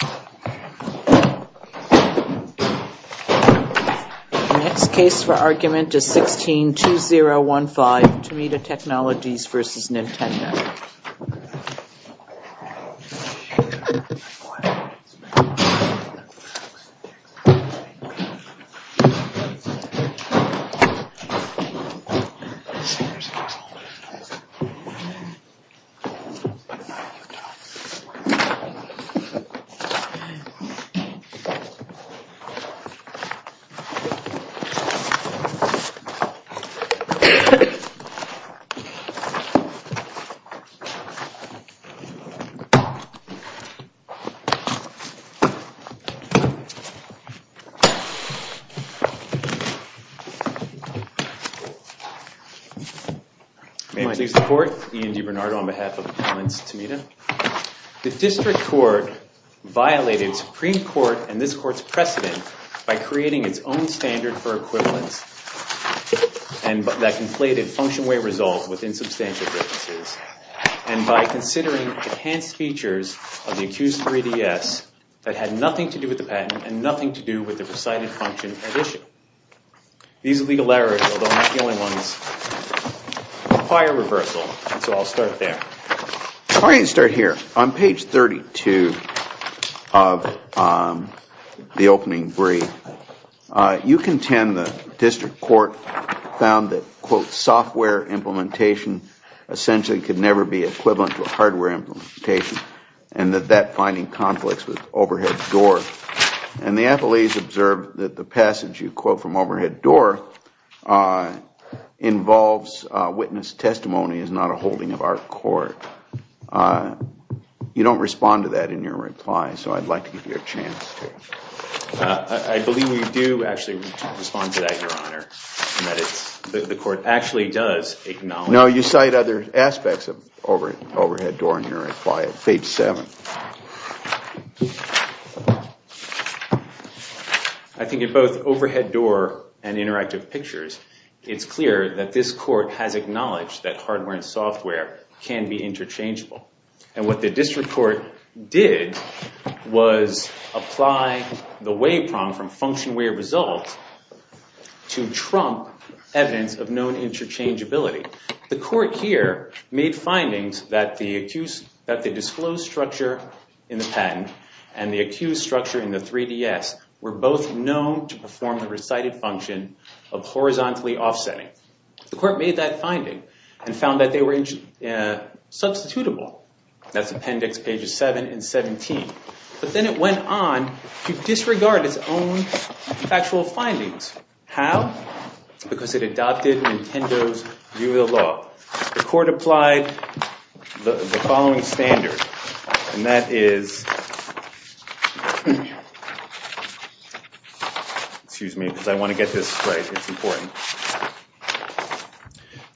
The next case for argument is 16-2015 Tomita Technologies v. Nintendo. May it please the Court, Ian DiBernardo on behalf of the clients Tomita. The District Court violated Supreme Court and this Court's precedent by creating its own standard for equivalence and that conflated function way results with insubstantial differences, and by considering enhanced features of the accused 3DS that had nothing to do with the patent and nothing to do with the presided function at issue. These legal errors, although not the only ones, require reversal, so I'll start there. If I can start here, on page 32 of the opening brief, you contend the District Court found that, quote, software implementation essentially could never be equivalent to hardware implementation and that that finding conflicts with overhead door. And the affiliates observed that the passage, you quote, from overhead door, involves witness testimony is not a holding of our court. You don't respond to that in your reply, so I'd like to give you a chance to. I believe we do actually respond to that, Your Honor. The Court actually does acknowledge that. No, you cite other aspects of overhead door in your reply. Page 7. I think in both overhead door and interactive pictures, it's clear that this Court has acknowledged that hardware and software can be interchangeable, and what the District Court did was apply the way problem from function way result to trump evidence of known interchangeability. The Court here made findings that the disclosed structure in the patent and the accused structure in the 3DS were both known to perform the recited function of horizontally offsetting. The Court made that finding and found that they were substitutable. That's appendix pages 7 and 17. But then it went on to disregard its own factual findings. How? Because it adopted Nintendo's view of the law. The Court applied the following standard, and that is... Excuse me, because I want to get this right. It's important.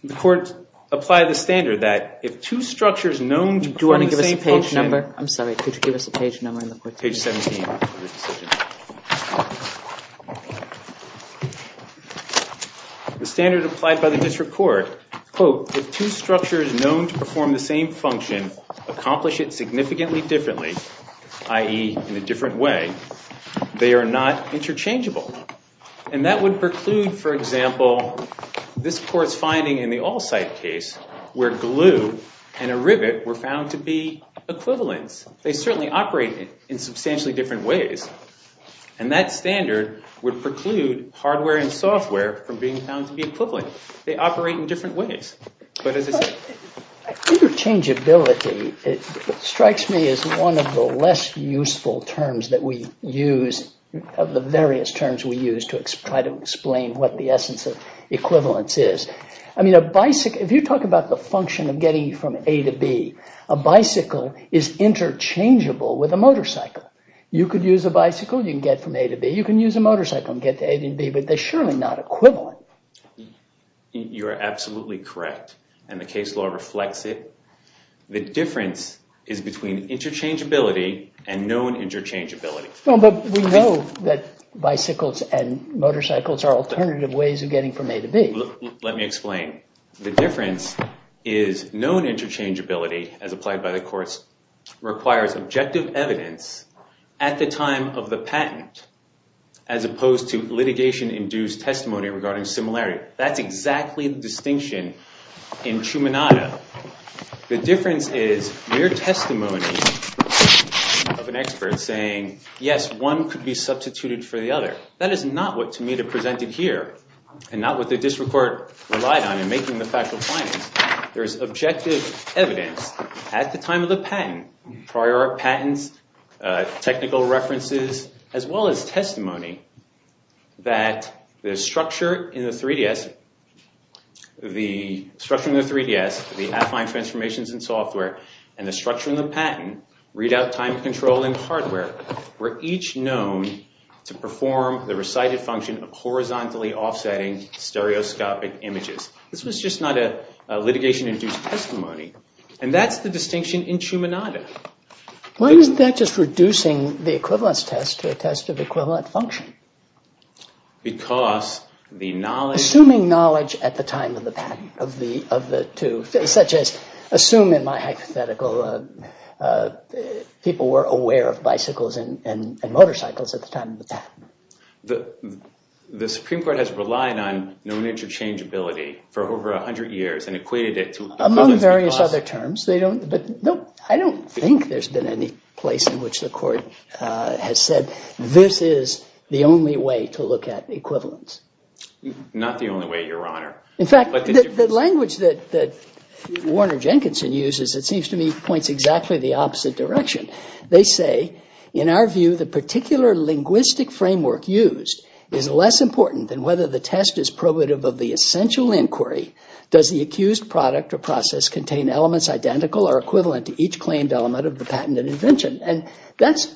The Court applied the standard that if two structures known to perform the same function... Do you want to give us a page number? I'm sorry, could you give us a page number? Page 17. The standard applied by the District Court, quote, if two structures known to perform the same function accomplish it significantly differently, i.e., in a different way, they are not interchangeable. And that would preclude, for example, this Court's finding in the all-site case where glue and a rivet were found to be equivalents. They certainly operate in substantially different ways. And that standard would preclude hardware and software from being found to be equivalent. They operate in different ways. Interchangeability strikes me as one of the less useful terms that we use, of the various terms we use to try to explain what the essence of equivalence is. I mean, if you talk about the function of getting from A to B, a bicycle is interchangeable with a motorcycle. You could use a bicycle, you can get from A to B, you can use a motorcycle and get to A to B, but they're surely not equivalent. You're absolutely correct, and the case law reflects it. The difference is between interchangeability and known interchangeability. No, but we know that bicycles and motorcycles are alternative ways of getting from A to B. Let me explain. The difference is known interchangeability, as applied by the courts, requires objective evidence at the time of the patent, as opposed to litigation-induced testimony regarding similarity. That's exactly the distinction in Trumanado. The difference is mere testimony of an expert saying, yes, one could be substituted for the other. That is not what Tamita presented here, and not what the district court relied on in making the factual findings. There is objective evidence at the time of the patent, prior patents, technical references, as well as testimony that the structure in the 3DS, the structure in the 3DS, the affine transformations in software, and the structure in the patent, readout time control and hardware, were each known to perform the recited function of horizontally offsetting stereoscopic images. This was just not a litigation-induced testimony. And that's the distinction in Trumanado. Why isn't that just reducing the equivalence test to a test of equivalent function? Because the knowledge- Assuming knowledge at the time of the patent, of the two, such as, assume in my hypothetical, people were aware of bicycles and motorcycles at the time of the patent. The Supreme Court has relied on known interchangeability for over 100 years and equated it to- Among various other terms. I don't think there's been any place in which the court has said, this is the only way to look at equivalence. Not the only way, Your Honor. In fact, the language that Warner Jenkinson uses, it seems to me, points exactly the opposite direction. They say, in our view, the particular linguistic framework used is less important than whether the test is probative of the essential inquiry. Does the accused product or process contain elements identical or equivalent to each claimed element of the patent and invention? And that's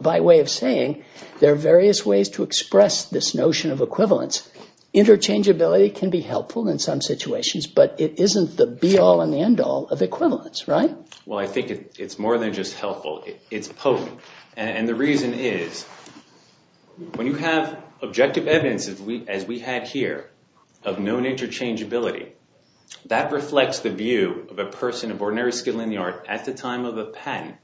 by way of saying there are various ways to express this notion of equivalence. Interchangeability can be helpful in some situations, but it isn't the be-all and the end-all of equivalence, right? Well, I think it's more than just helpful. It's potent. And the reason is, when you have objective evidence, as we had here, of known interchangeability, that reflects the view of a person of ordinary skill in the art at the time of a patent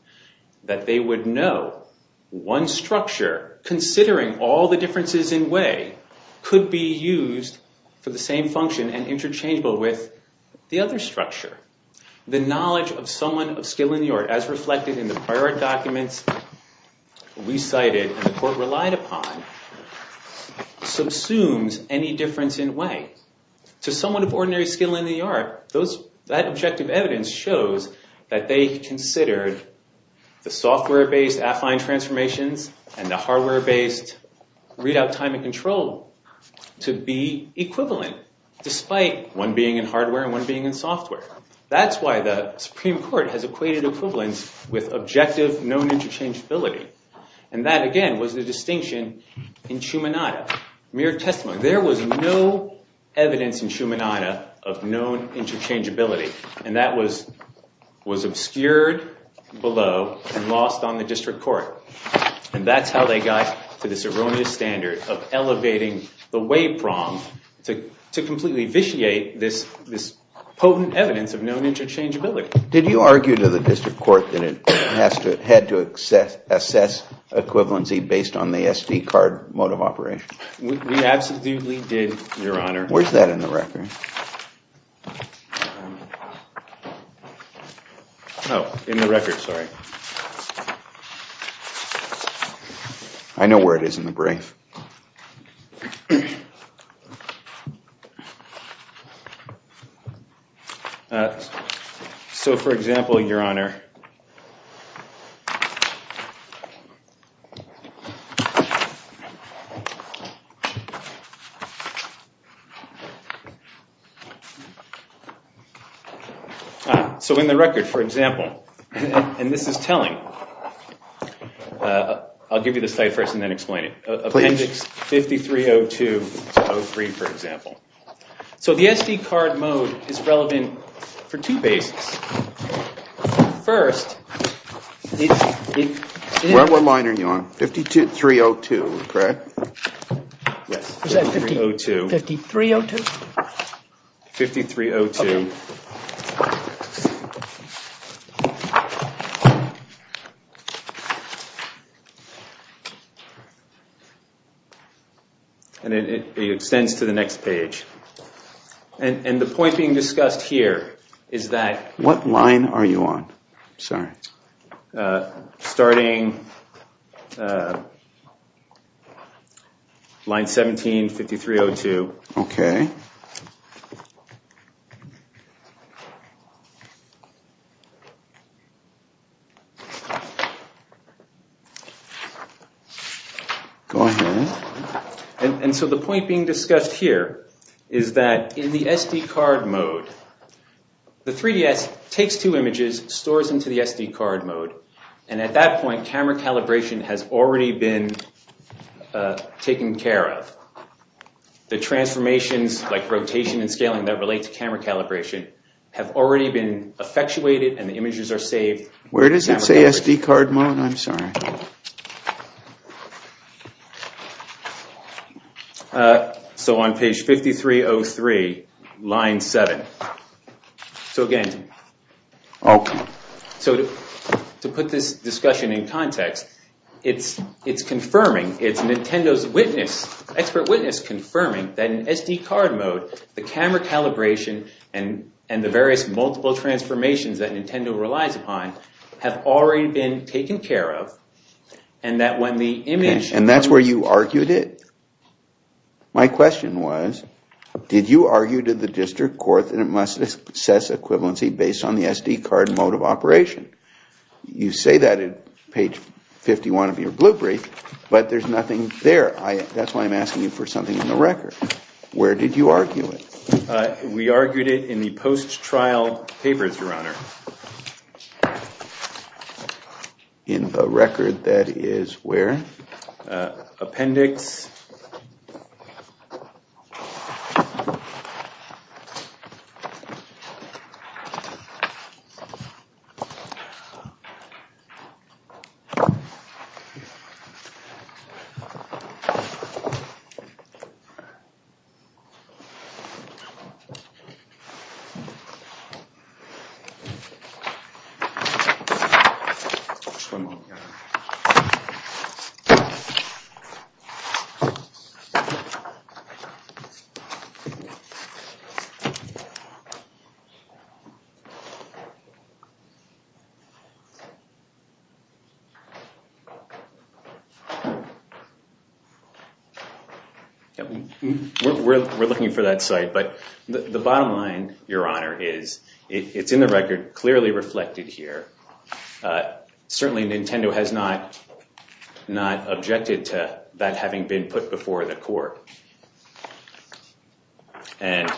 that they would know one structure, considering all the differences in way, could be used for the same function and interchangeable with the other structure. The knowledge of someone of skill in the art, as reflected in the prior documents we cited and the court relied upon, subsumes any difference in way. To someone of ordinary skill in the art, that objective evidence shows that they considered the software-based affine transformations and the hardware-based readout time and control to be equivalent, despite one being in hardware and one being in software. That's why the Supreme Court has equated equivalence with objective known interchangeability. And that, again, was the distinction in Schumanatta, mere testimony. There was no evidence in Schumanatta of known interchangeability. And that was obscured below and lost on the district court. And that's how they got to this erroneous standard of elevating the way prong to completely vitiate this potent evidence of known interchangeability. Did you argue to the district court that it had to assess equivalency based on the SD card mode of operation? We absolutely did, Your Honor. Where's that in the record? Sorry. Oh, in the record, sorry. I know where it is in the brief. So, for example, Your Honor, so in the record, for example, and this is telling, I'll give you this slide first and then explain it. Please. It's 5302-03, for example. So the SD card mode is relevant for two bases. First, it's- What line are you on? 5302, correct? Yes. 5302. 5302? 5302. Okay. And it extends to the next page. And the point being discussed here is that- What line are you on? Sorry. Starting line 17, 5302. Okay. Go ahead. And so the point being discussed here is that in the SD card mode, the 3DS takes two images, stores them to the SD card mode, and at that point, camera calibration has already been taken care of. The transformations like rotation and scaling that relate to camera calibration have already been effectuated and the images are saved. Where does it say SD card mode? I'm sorry. So on page 5303, line 7. So again- Okay. So to put this discussion in context, it's confirming, it's Nintendo's witness, expert witness confirming, that in SD card mode, the camera calibration and the various multiple transformations that Nintendo relies upon have already been taken care of and that when the image- And that's where you argued it. My question was, did you argue to the district court that it must assess equivalency based on the SD card mode of operation? You say that at page 51 of your blueprint, but there's nothing there. That's why I'm asking you for something in the record. Where did you argue it? We argued it in the post-trial papers, Your Honor. In the record that is where? Appendix. Okay. We're looking for that site, but the bottom line, Your Honor, is it's in the record clearly reflected here. Certainly Nintendo has not objected to that having been put before the court. And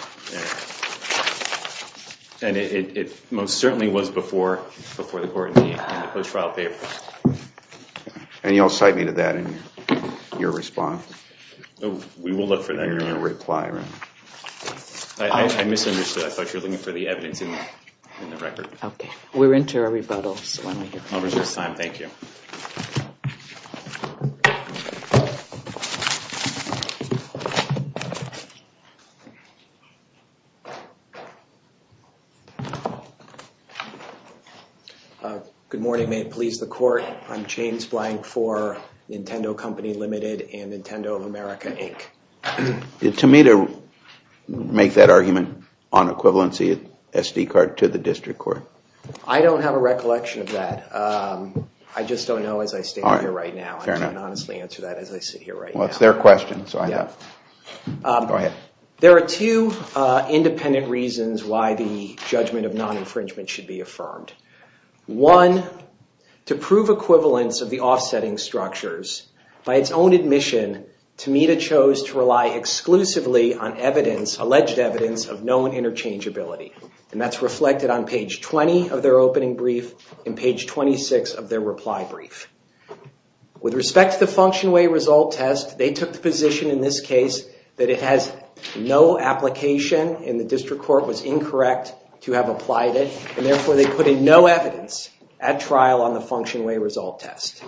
it most certainly was before the court in the post-trial papers. And you'll cite me to that in your response? We will look for that in your reply, Your Honor. I misunderstood. I thought you were looking for the evidence in the record. Okay. We're into our rebuttals. I'll reserve time. Thank you. Good morning. May it please the court. I'm James Blank for Nintendo Company Limited and Nintendo of America, Inc. Did Tamita make that argument on equivalency SD card to the district court? I don't have a recollection of that. I just don't know as I stand here right now. I can't honestly answer that as I sit here right now. Well, it's their question, so I know. Go ahead. There are two independent reasons why the judgment of non-infringement should be affirmed. One, to prove equivalence of the offsetting structures, by its own admission, Tamita chose to rely exclusively on evidence, alleged evidence, of known interchangeability. And that's reflected on page 20 of their opening brief and page 26 of their reply brief. With respect to the function way result test, they took the position in this case that it has no application and the district court was incorrect to have applied it, and therefore they put in no evidence at trial on the function way result test.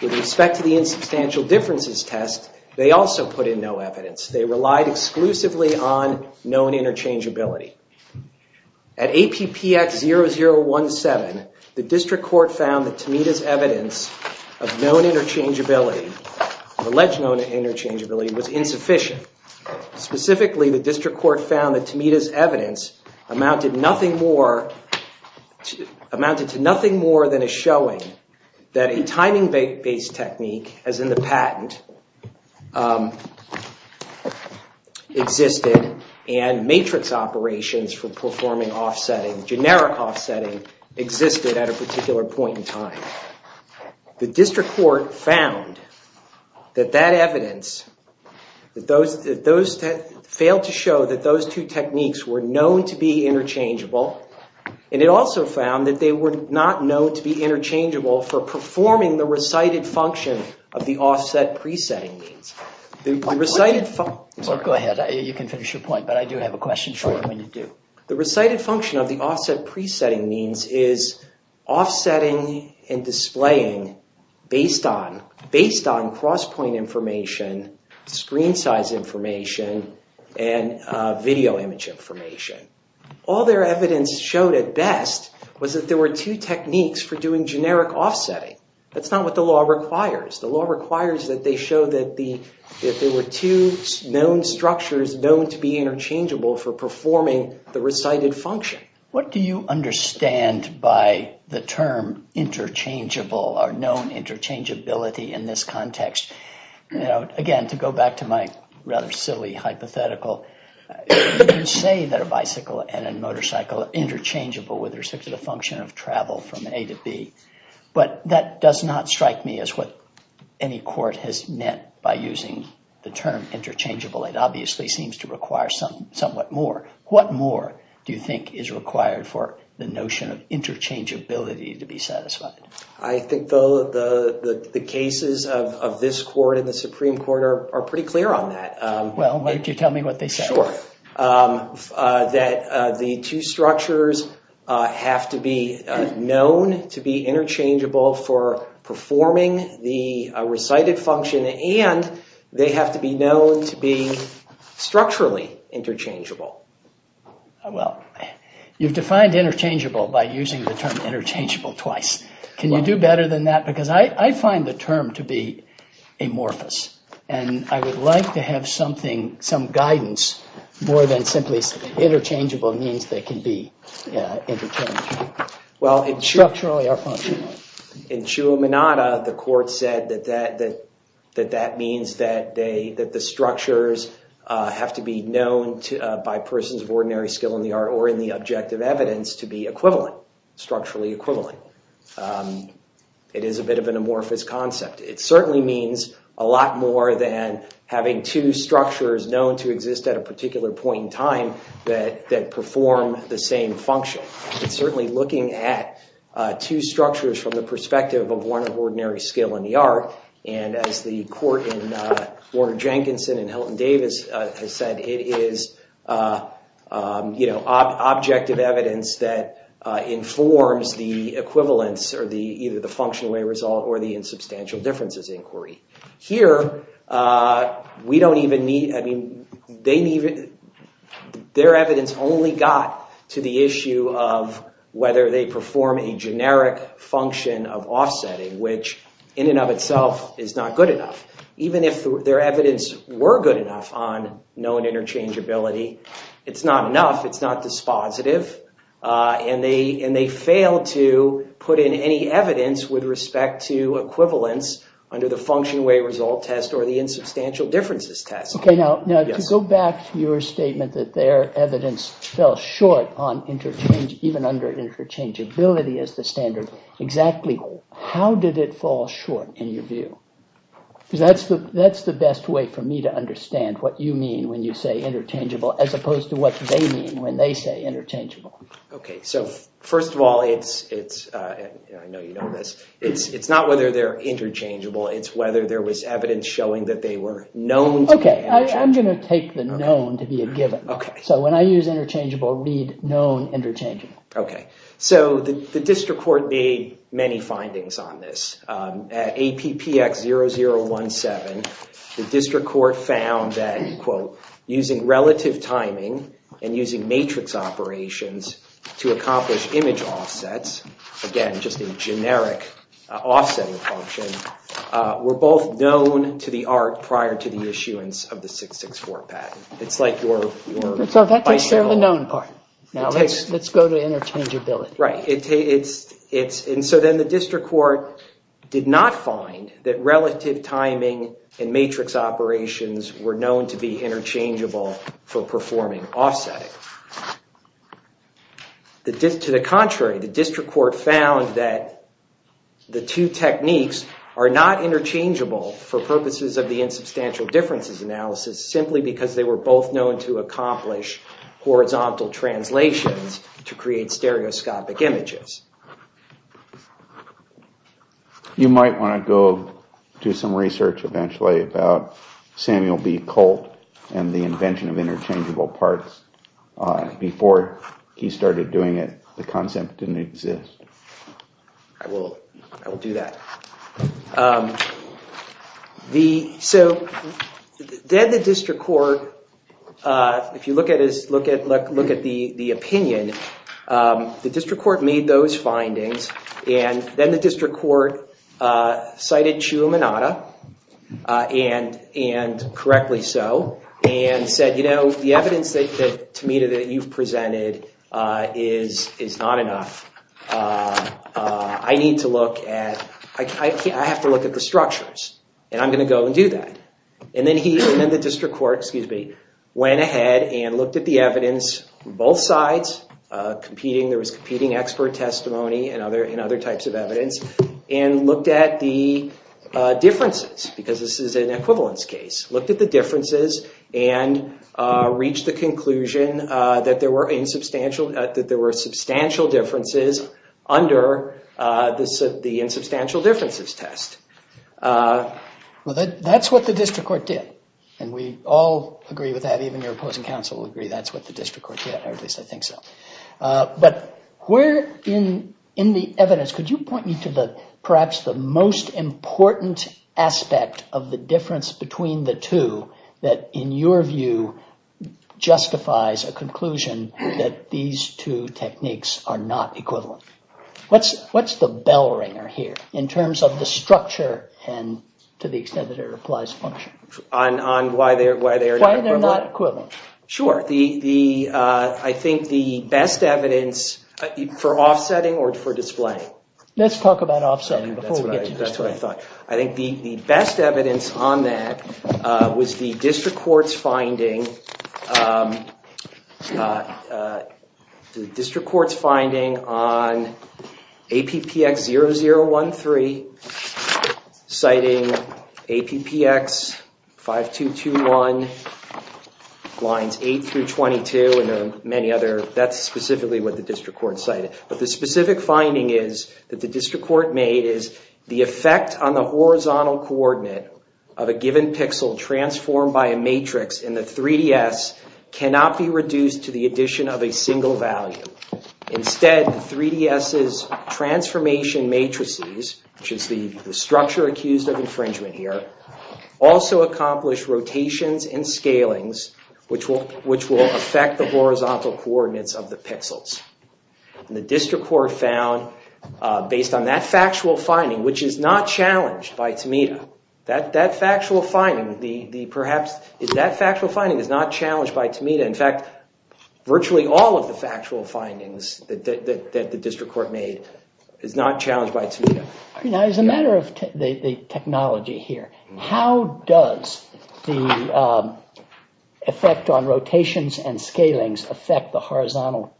With respect to the insubstantial differences test, they also put in no evidence. They relied exclusively on known interchangeability. At APPX0017, the district court found that Tamita's evidence of known interchangeability, alleged known interchangeability, was insufficient. Specifically, the district court found that Tamita's evidence amounted to nothing more than a showing that a timing-based technique, as in the patent, existed, and matrix operations for performing generic offsetting existed at a particular point in time. The district court found that that evidence failed to show that those two techniques were known to be interchangeable, and it also found that they were not known to be interchangeable for performing the recited function of the offset pre-setting means. Go ahead. You can finish your point, but I do have a question for you. The recited function of the offset pre-setting means is offsetting and displaying based on cross-point information, screen size information, and video image information. All their evidence showed at best was that there were two techniques for doing generic offsetting. That's not what the law requires. The law requires that they show that there were two known structures known to be interchangeable for performing the recited function. What do you understand by the term interchangeable or known interchangeability in this context? Again, to go back to my rather silly hypothetical, you say that a bicycle and a motorcycle are interchangeable with respect to the function of travel from A to B, but that does not strike me as what any court has meant by using the term interchangeable. It obviously seems to require somewhat more. What more do you think is required for the notion of interchangeability to be satisfied? I think the cases of this court and the Supreme Court are pretty clear on that. Well, why don't you tell me what they say. Sure. That the two structures have to be known to be interchangeable for performing the recited function, and they have to be known to be structurally interchangeable. Well, you've defined interchangeable by using the term interchangeable twice. Can you do better than that? Because I find the term to be amorphous, and I would like to have some guidance more than simply interchangeable means they can be interchangeable. Structurally or functionally. In Chua Minada, the court said that that means that the structures have to be known by persons of ordinary skill in the art or in the objective evidence to be equivalent, structurally equivalent. It is a bit of an amorphous concept. It certainly means a lot more than having two structures known to exist at a particular point in time that perform the same function. It's certainly looking at two structures from the perspective of one of ordinary skill in the art, and as the court in Warner-Jenkinson and Hilton Davis has said, it is objective evidence that informs the equivalence or either the functional way result or the insubstantial differences inquiry. Here, their evidence only got to the issue of whether they perform a generic function of offsetting, which in and of itself is not good enough. Even if their evidence were good enough on known interchangeability, it's not enough. It's not dispositive. And they failed to put in any evidence with respect to equivalence under the function way result test or the insubstantial differences test. Now, to go back to your statement that their evidence fell short on interchange, even under interchangeability as the standard, exactly how did it fall short in your view? That's the best way for me to understand what you mean when you say interchangeable as opposed to what they mean when they say interchangeable. Okay. So, first of all, it's not whether they're interchangeable. It's whether there was evidence showing that they were known to be interchangeable. Okay. I'm going to take the known to be a given. Okay. So, when I use interchangeable, read known interchangeable. Okay. So, the district court made many findings on this. At APPX0017, the district court found that, quote, using relative timing and using matrix operations to accomplish image offsets, again, just a generic offsetting function, were both known to the art prior to the issuance of the 664 patent. It's like your... So, that's the known part. Now, let's go to interchangeability. Right. And so then the district court did not find that relative timing and matrix operations were known to be interchangeable for performing offsetting. To the contrary, the district court found that the two techniques are not interchangeable for purposes of the insubstantial differences analysis, simply because they were both known to accomplish horizontal translations to create stereoscopic images. You might want to go do some research eventually about Samuel B. Colt and the invention of interchangeable parts. Before he started doing it, the concept didn't exist. I will. I will do that. So, then the district court, if you look at the opinion, the district court made those findings, and then the district court cited Chiuminatta, and correctly so, and said, you know, the evidence, Tamita, that you've presented is not enough. I need to look at... I have to look at the structures, and I'm going to go and do that. And then the district court, excuse me, went ahead and looked at the evidence on both sides, there was competing expert testimony and other types of evidence, and looked at the differences, because this is an equivalence case, looked at the differences and reached the conclusion that there were substantial differences under the insubstantial differences test. Well, that's what the district court did, and we all agree with that, even your opposing counsel would agree that's what the district court did, or at least I think so. But where in the evidence, could you point me to perhaps the most important aspect of the difference between the two, that in your view justifies a conclusion that these two techniques are not equivalent? What's the bell ringer here, in terms of the structure and to the extent that it applies function? On why they're not equivalent? Sure, I think the best evidence, for offsetting or for displaying? Let's talk about offsetting before we get to display. I think the best evidence on that was the district court's finding on APPX 0013, citing APPX 5221 lines 8 through 22 and many other, that's specifically what the district court cited. But the specific finding is that the district court made is the effect on the horizontal coordinate of a given pixel transformed by a matrix in the 3DS cannot be reduced to the addition of a single value. Instead, 3DS's transformation matrices, which is the structure accused of infringement here, also accomplish rotations and scalings, which will affect the horizontal coordinates of the pixels. And the district court found, based on that factual finding, which is not challenged by Tamita, that factual finding is not challenged by Tamita. In fact, virtually all of the factual findings that the district court made is not challenged by Tamita. As a matter of technology here, how does the effect on rotations and scalings affect the horizontal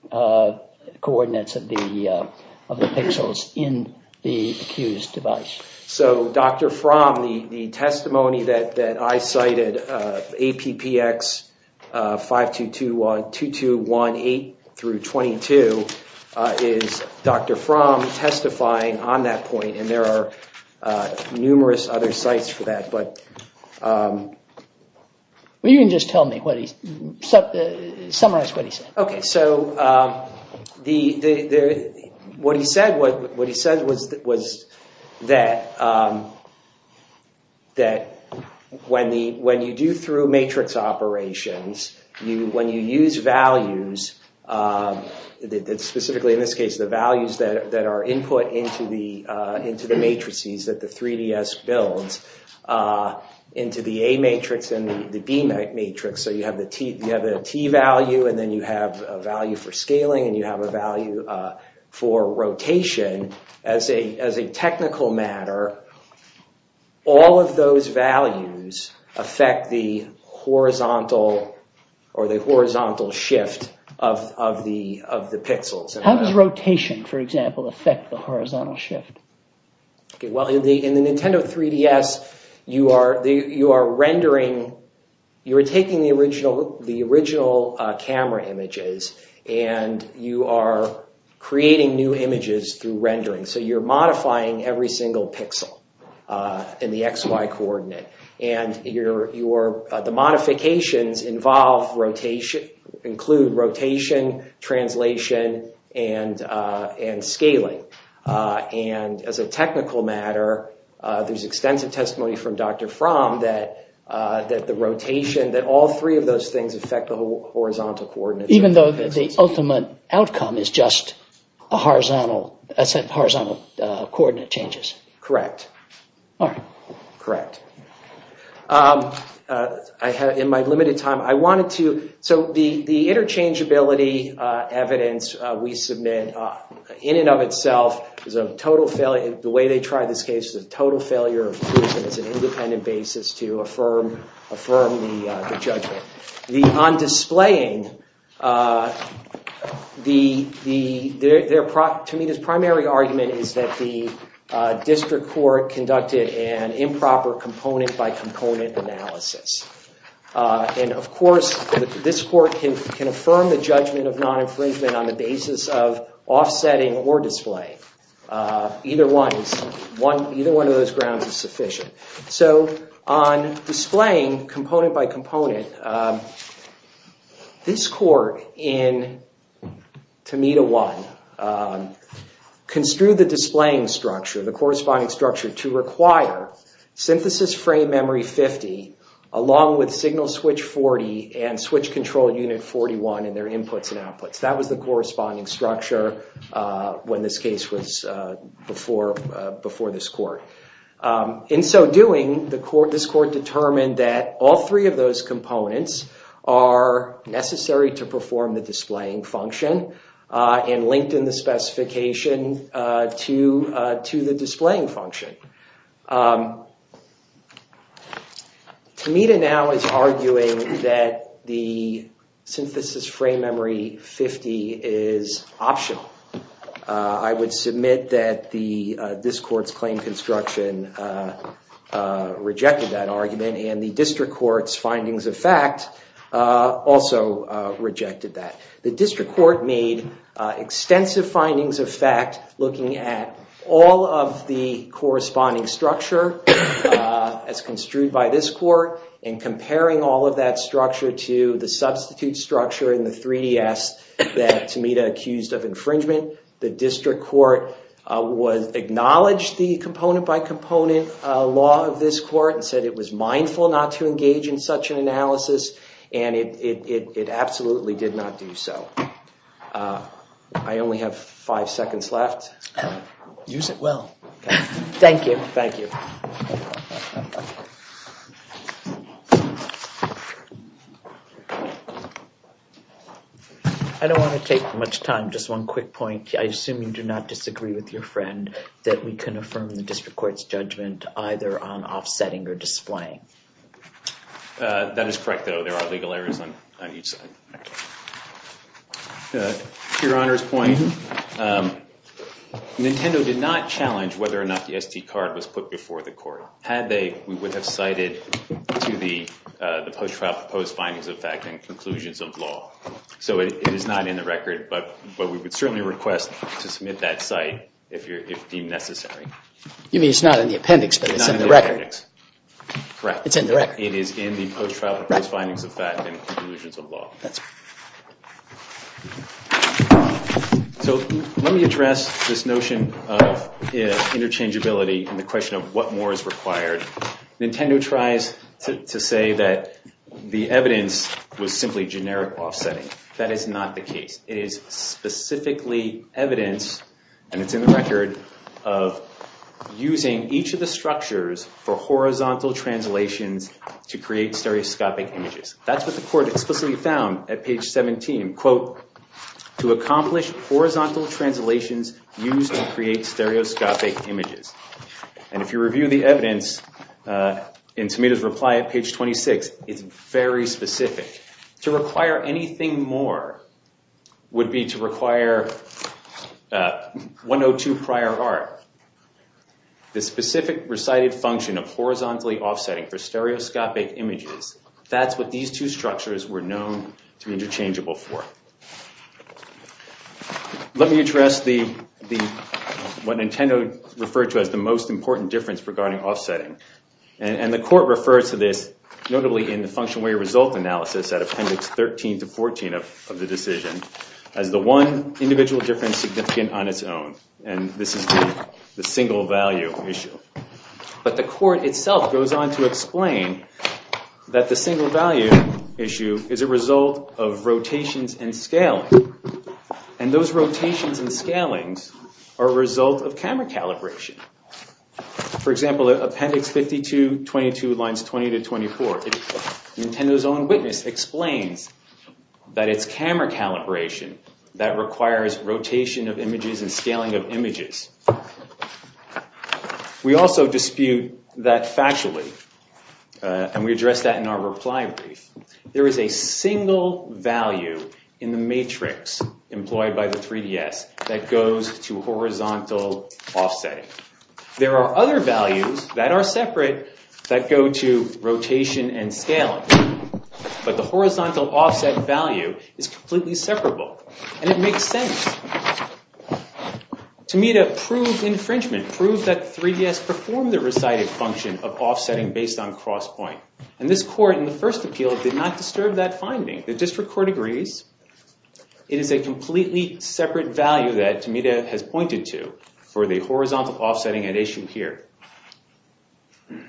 coordinates of the pixels in the accused device? So, Dr. Fromm, the testimony that I cited, APPX 5221, 8 through 22, is Dr. Fromm testifying on that point, and there are numerous other sites for that. Well, you can just tell me, summarize what he said. Okay, so, what he said was that when you do through matrix operations, when you use values, specifically in this case the values that are input into the matrices that the 3DS builds, into the A matrix and the B matrix, so you have the T value and then you have a value for scaling and you have a value for rotation, as a technical matter, all of those values affect the horizontal shift of the pixels. How does rotation, for example, affect the horizontal shift? Well, in the Nintendo 3DS, you are rendering, you are taking the original camera images and you are creating new images through rendering. So, you're modifying every single pixel in the XY coordinate. And the modifications include rotation, translation, and scaling. And, as a technical matter, there's extensive testimony from Dr. Fromm that the rotation, that all three of those things affect the horizontal coordinates of the pixels. Even though the ultimate outcome is just a set of horizontal coordinate changes? Correct. All right. Correct. In my limited time, I wanted to... So, the interchangeability evidence we submit, in and of itself, is a total failure. The way they tried this case was a total failure of proof and as an independent basis to affirm the judgment. On displaying, to me, the primary argument is that the district court conducted an improper component-by-component analysis. And, of course, this court can affirm the judgment of non-infringement on the basis of offsetting or displaying. Either one of those grounds is sufficient. So, on displaying component-by-component, this court, in Tamita 1, construed the displaying structure, the corresponding structure, to require synthesis frame memory 50, along with signal switch 40, and switch control unit 41 in their inputs and outputs. That was the corresponding structure when this case was before this court. In so doing, this court determined that all three of those components are necessary to perform the displaying function and linked in the specification to the displaying function. Tamita now is arguing that the synthesis frame memory 50 is optional. I would submit that this court's claim construction rejected that argument and the district court's findings of fact also rejected that. The district court made extensive findings of fact looking at all of the corresponding structure as construed by this court and comparing all of that structure to the substitute structure in the 3DS that Tamita accused of infringement. The district court acknowledged the component-by-component law of this court and said it was mindful not to engage in such an analysis, and it absolutely did not do so. I only have five seconds left. Use it well. Thank you. Thank you. Thank you. I don't want to take much time. Just one quick point. I assume you do not disagree with your friend that we can affirm the district court's judgment either on offsetting or displaying. That is correct, though. There are legal errors on each side. To your Honor's point, Nintendo did not challenge whether or not the SD card was put before the court. Had they, we would have cited to the post-trial proposed findings of fact and conclusions of law. So it is not in the record, but we would certainly request to submit that cite if deemed necessary. You mean it's not in the appendix, but it's in the record? It's not in the appendix. Correct. It's in the record. It is in the post-trial proposed findings of fact and conclusions of law. That's right. So let me address this notion of interchangeability and the question of what more is required. Nintendo tries to say that the evidence was simply generic offsetting. That is not the case. It is specifically evidence, and it's in the record, of using each of the structures for horizontal translations to create stereoscopic images. That's what the court explicitly found at page 17. Quote, to accomplish horizontal translations used to create stereoscopic images. And if you review the evidence in Tomita's reply at page 26, it's very specific. To require anything more would be to require 102 prior art. The specific recited function of horizontally offsetting for stereoscopic images, that's what these two structures were known to be interchangeable for. Let me address what Nintendo referred to as the most important difference regarding offsetting. And the court refers to this, notably in the functional way result analysis at appendix 13 to 14 of the decision, as the one individual difference significant on its own. And this is the single value issue. But the court itself goes on to explain that the single value issue is a result of rotations and scaling. And those rotations and scalings are a result of camera calibration. For example, appendix 52.22 lines 20 to 24, Nintendo's own witness explains that it's camera calibration that requires rotation of images and scaling of images. We also dispute that factually. And we address that in our reply brief. There is a single value in the matrix employed by the 3DS that goes to horizontal offsetting. There are other values that are separate that go to rotation and scaling. But the horizontal offset value is completely separable. And it makes sense. Tomita proved infringement, proved that the 3DS performed the recited function of offsetting based on cross point. And this court in the first appeal did not disturb that finding. The district court agrees. It is a completely separate value that Tomita has pointed to for the horizontal offsetting at issue here.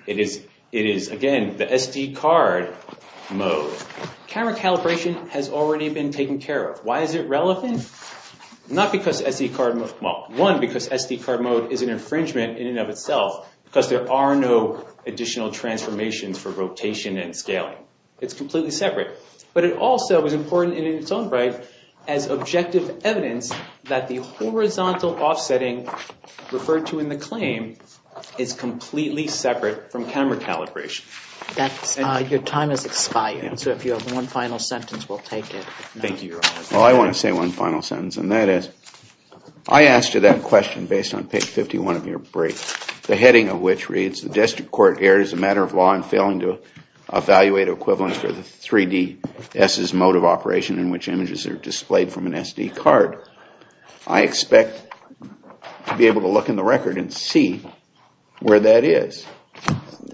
It is, again, the SD card mode. Camera calibration has already been taken care of. Why is it relevant? One, because SD card mode is an infringement in and of itself because there are no additional transformations for rotation and scaling. It's completely separate. But it also is important in its own right as objective evidence that the horizontal offsetting referred to in the claim is completely separate from camera calibration. Your time has expired. So if you have one final sentence, we'll take it. Well, I want to say one final sentence. And that is, I asked you that question based on page 51 of your brief. The heading of which reads, the district court erred as a matter of law in failing to evaluate equivalence for the 3DS' mode of operation in which images are displayed from an SD card. I expect to be able to look in the record and see where that is.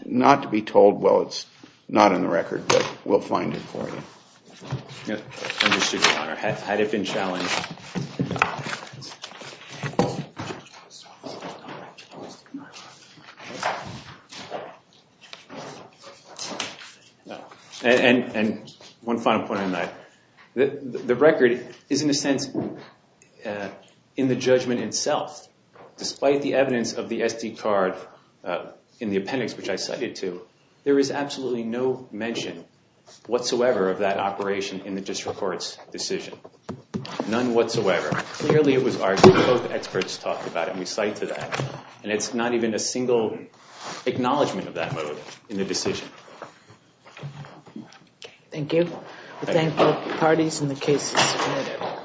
Not to be told, well, it's not in the record. But we'll find it for you. Understood, Your Honor. Had it been challenged. And one final point on that. The record is, in a sense, in the judgment itself. Despite the evidence of the SD card in the appendix, which I cited too, there is absolutely no mention whatsoever of that operation in the district court's decision. None whatsoever. Clearly, it was argued. Both experts talked about it. And we cite to that. And it's not even a single acknowledgment of that mode in the decision. Thank you. We thank both parties and the case is submitted.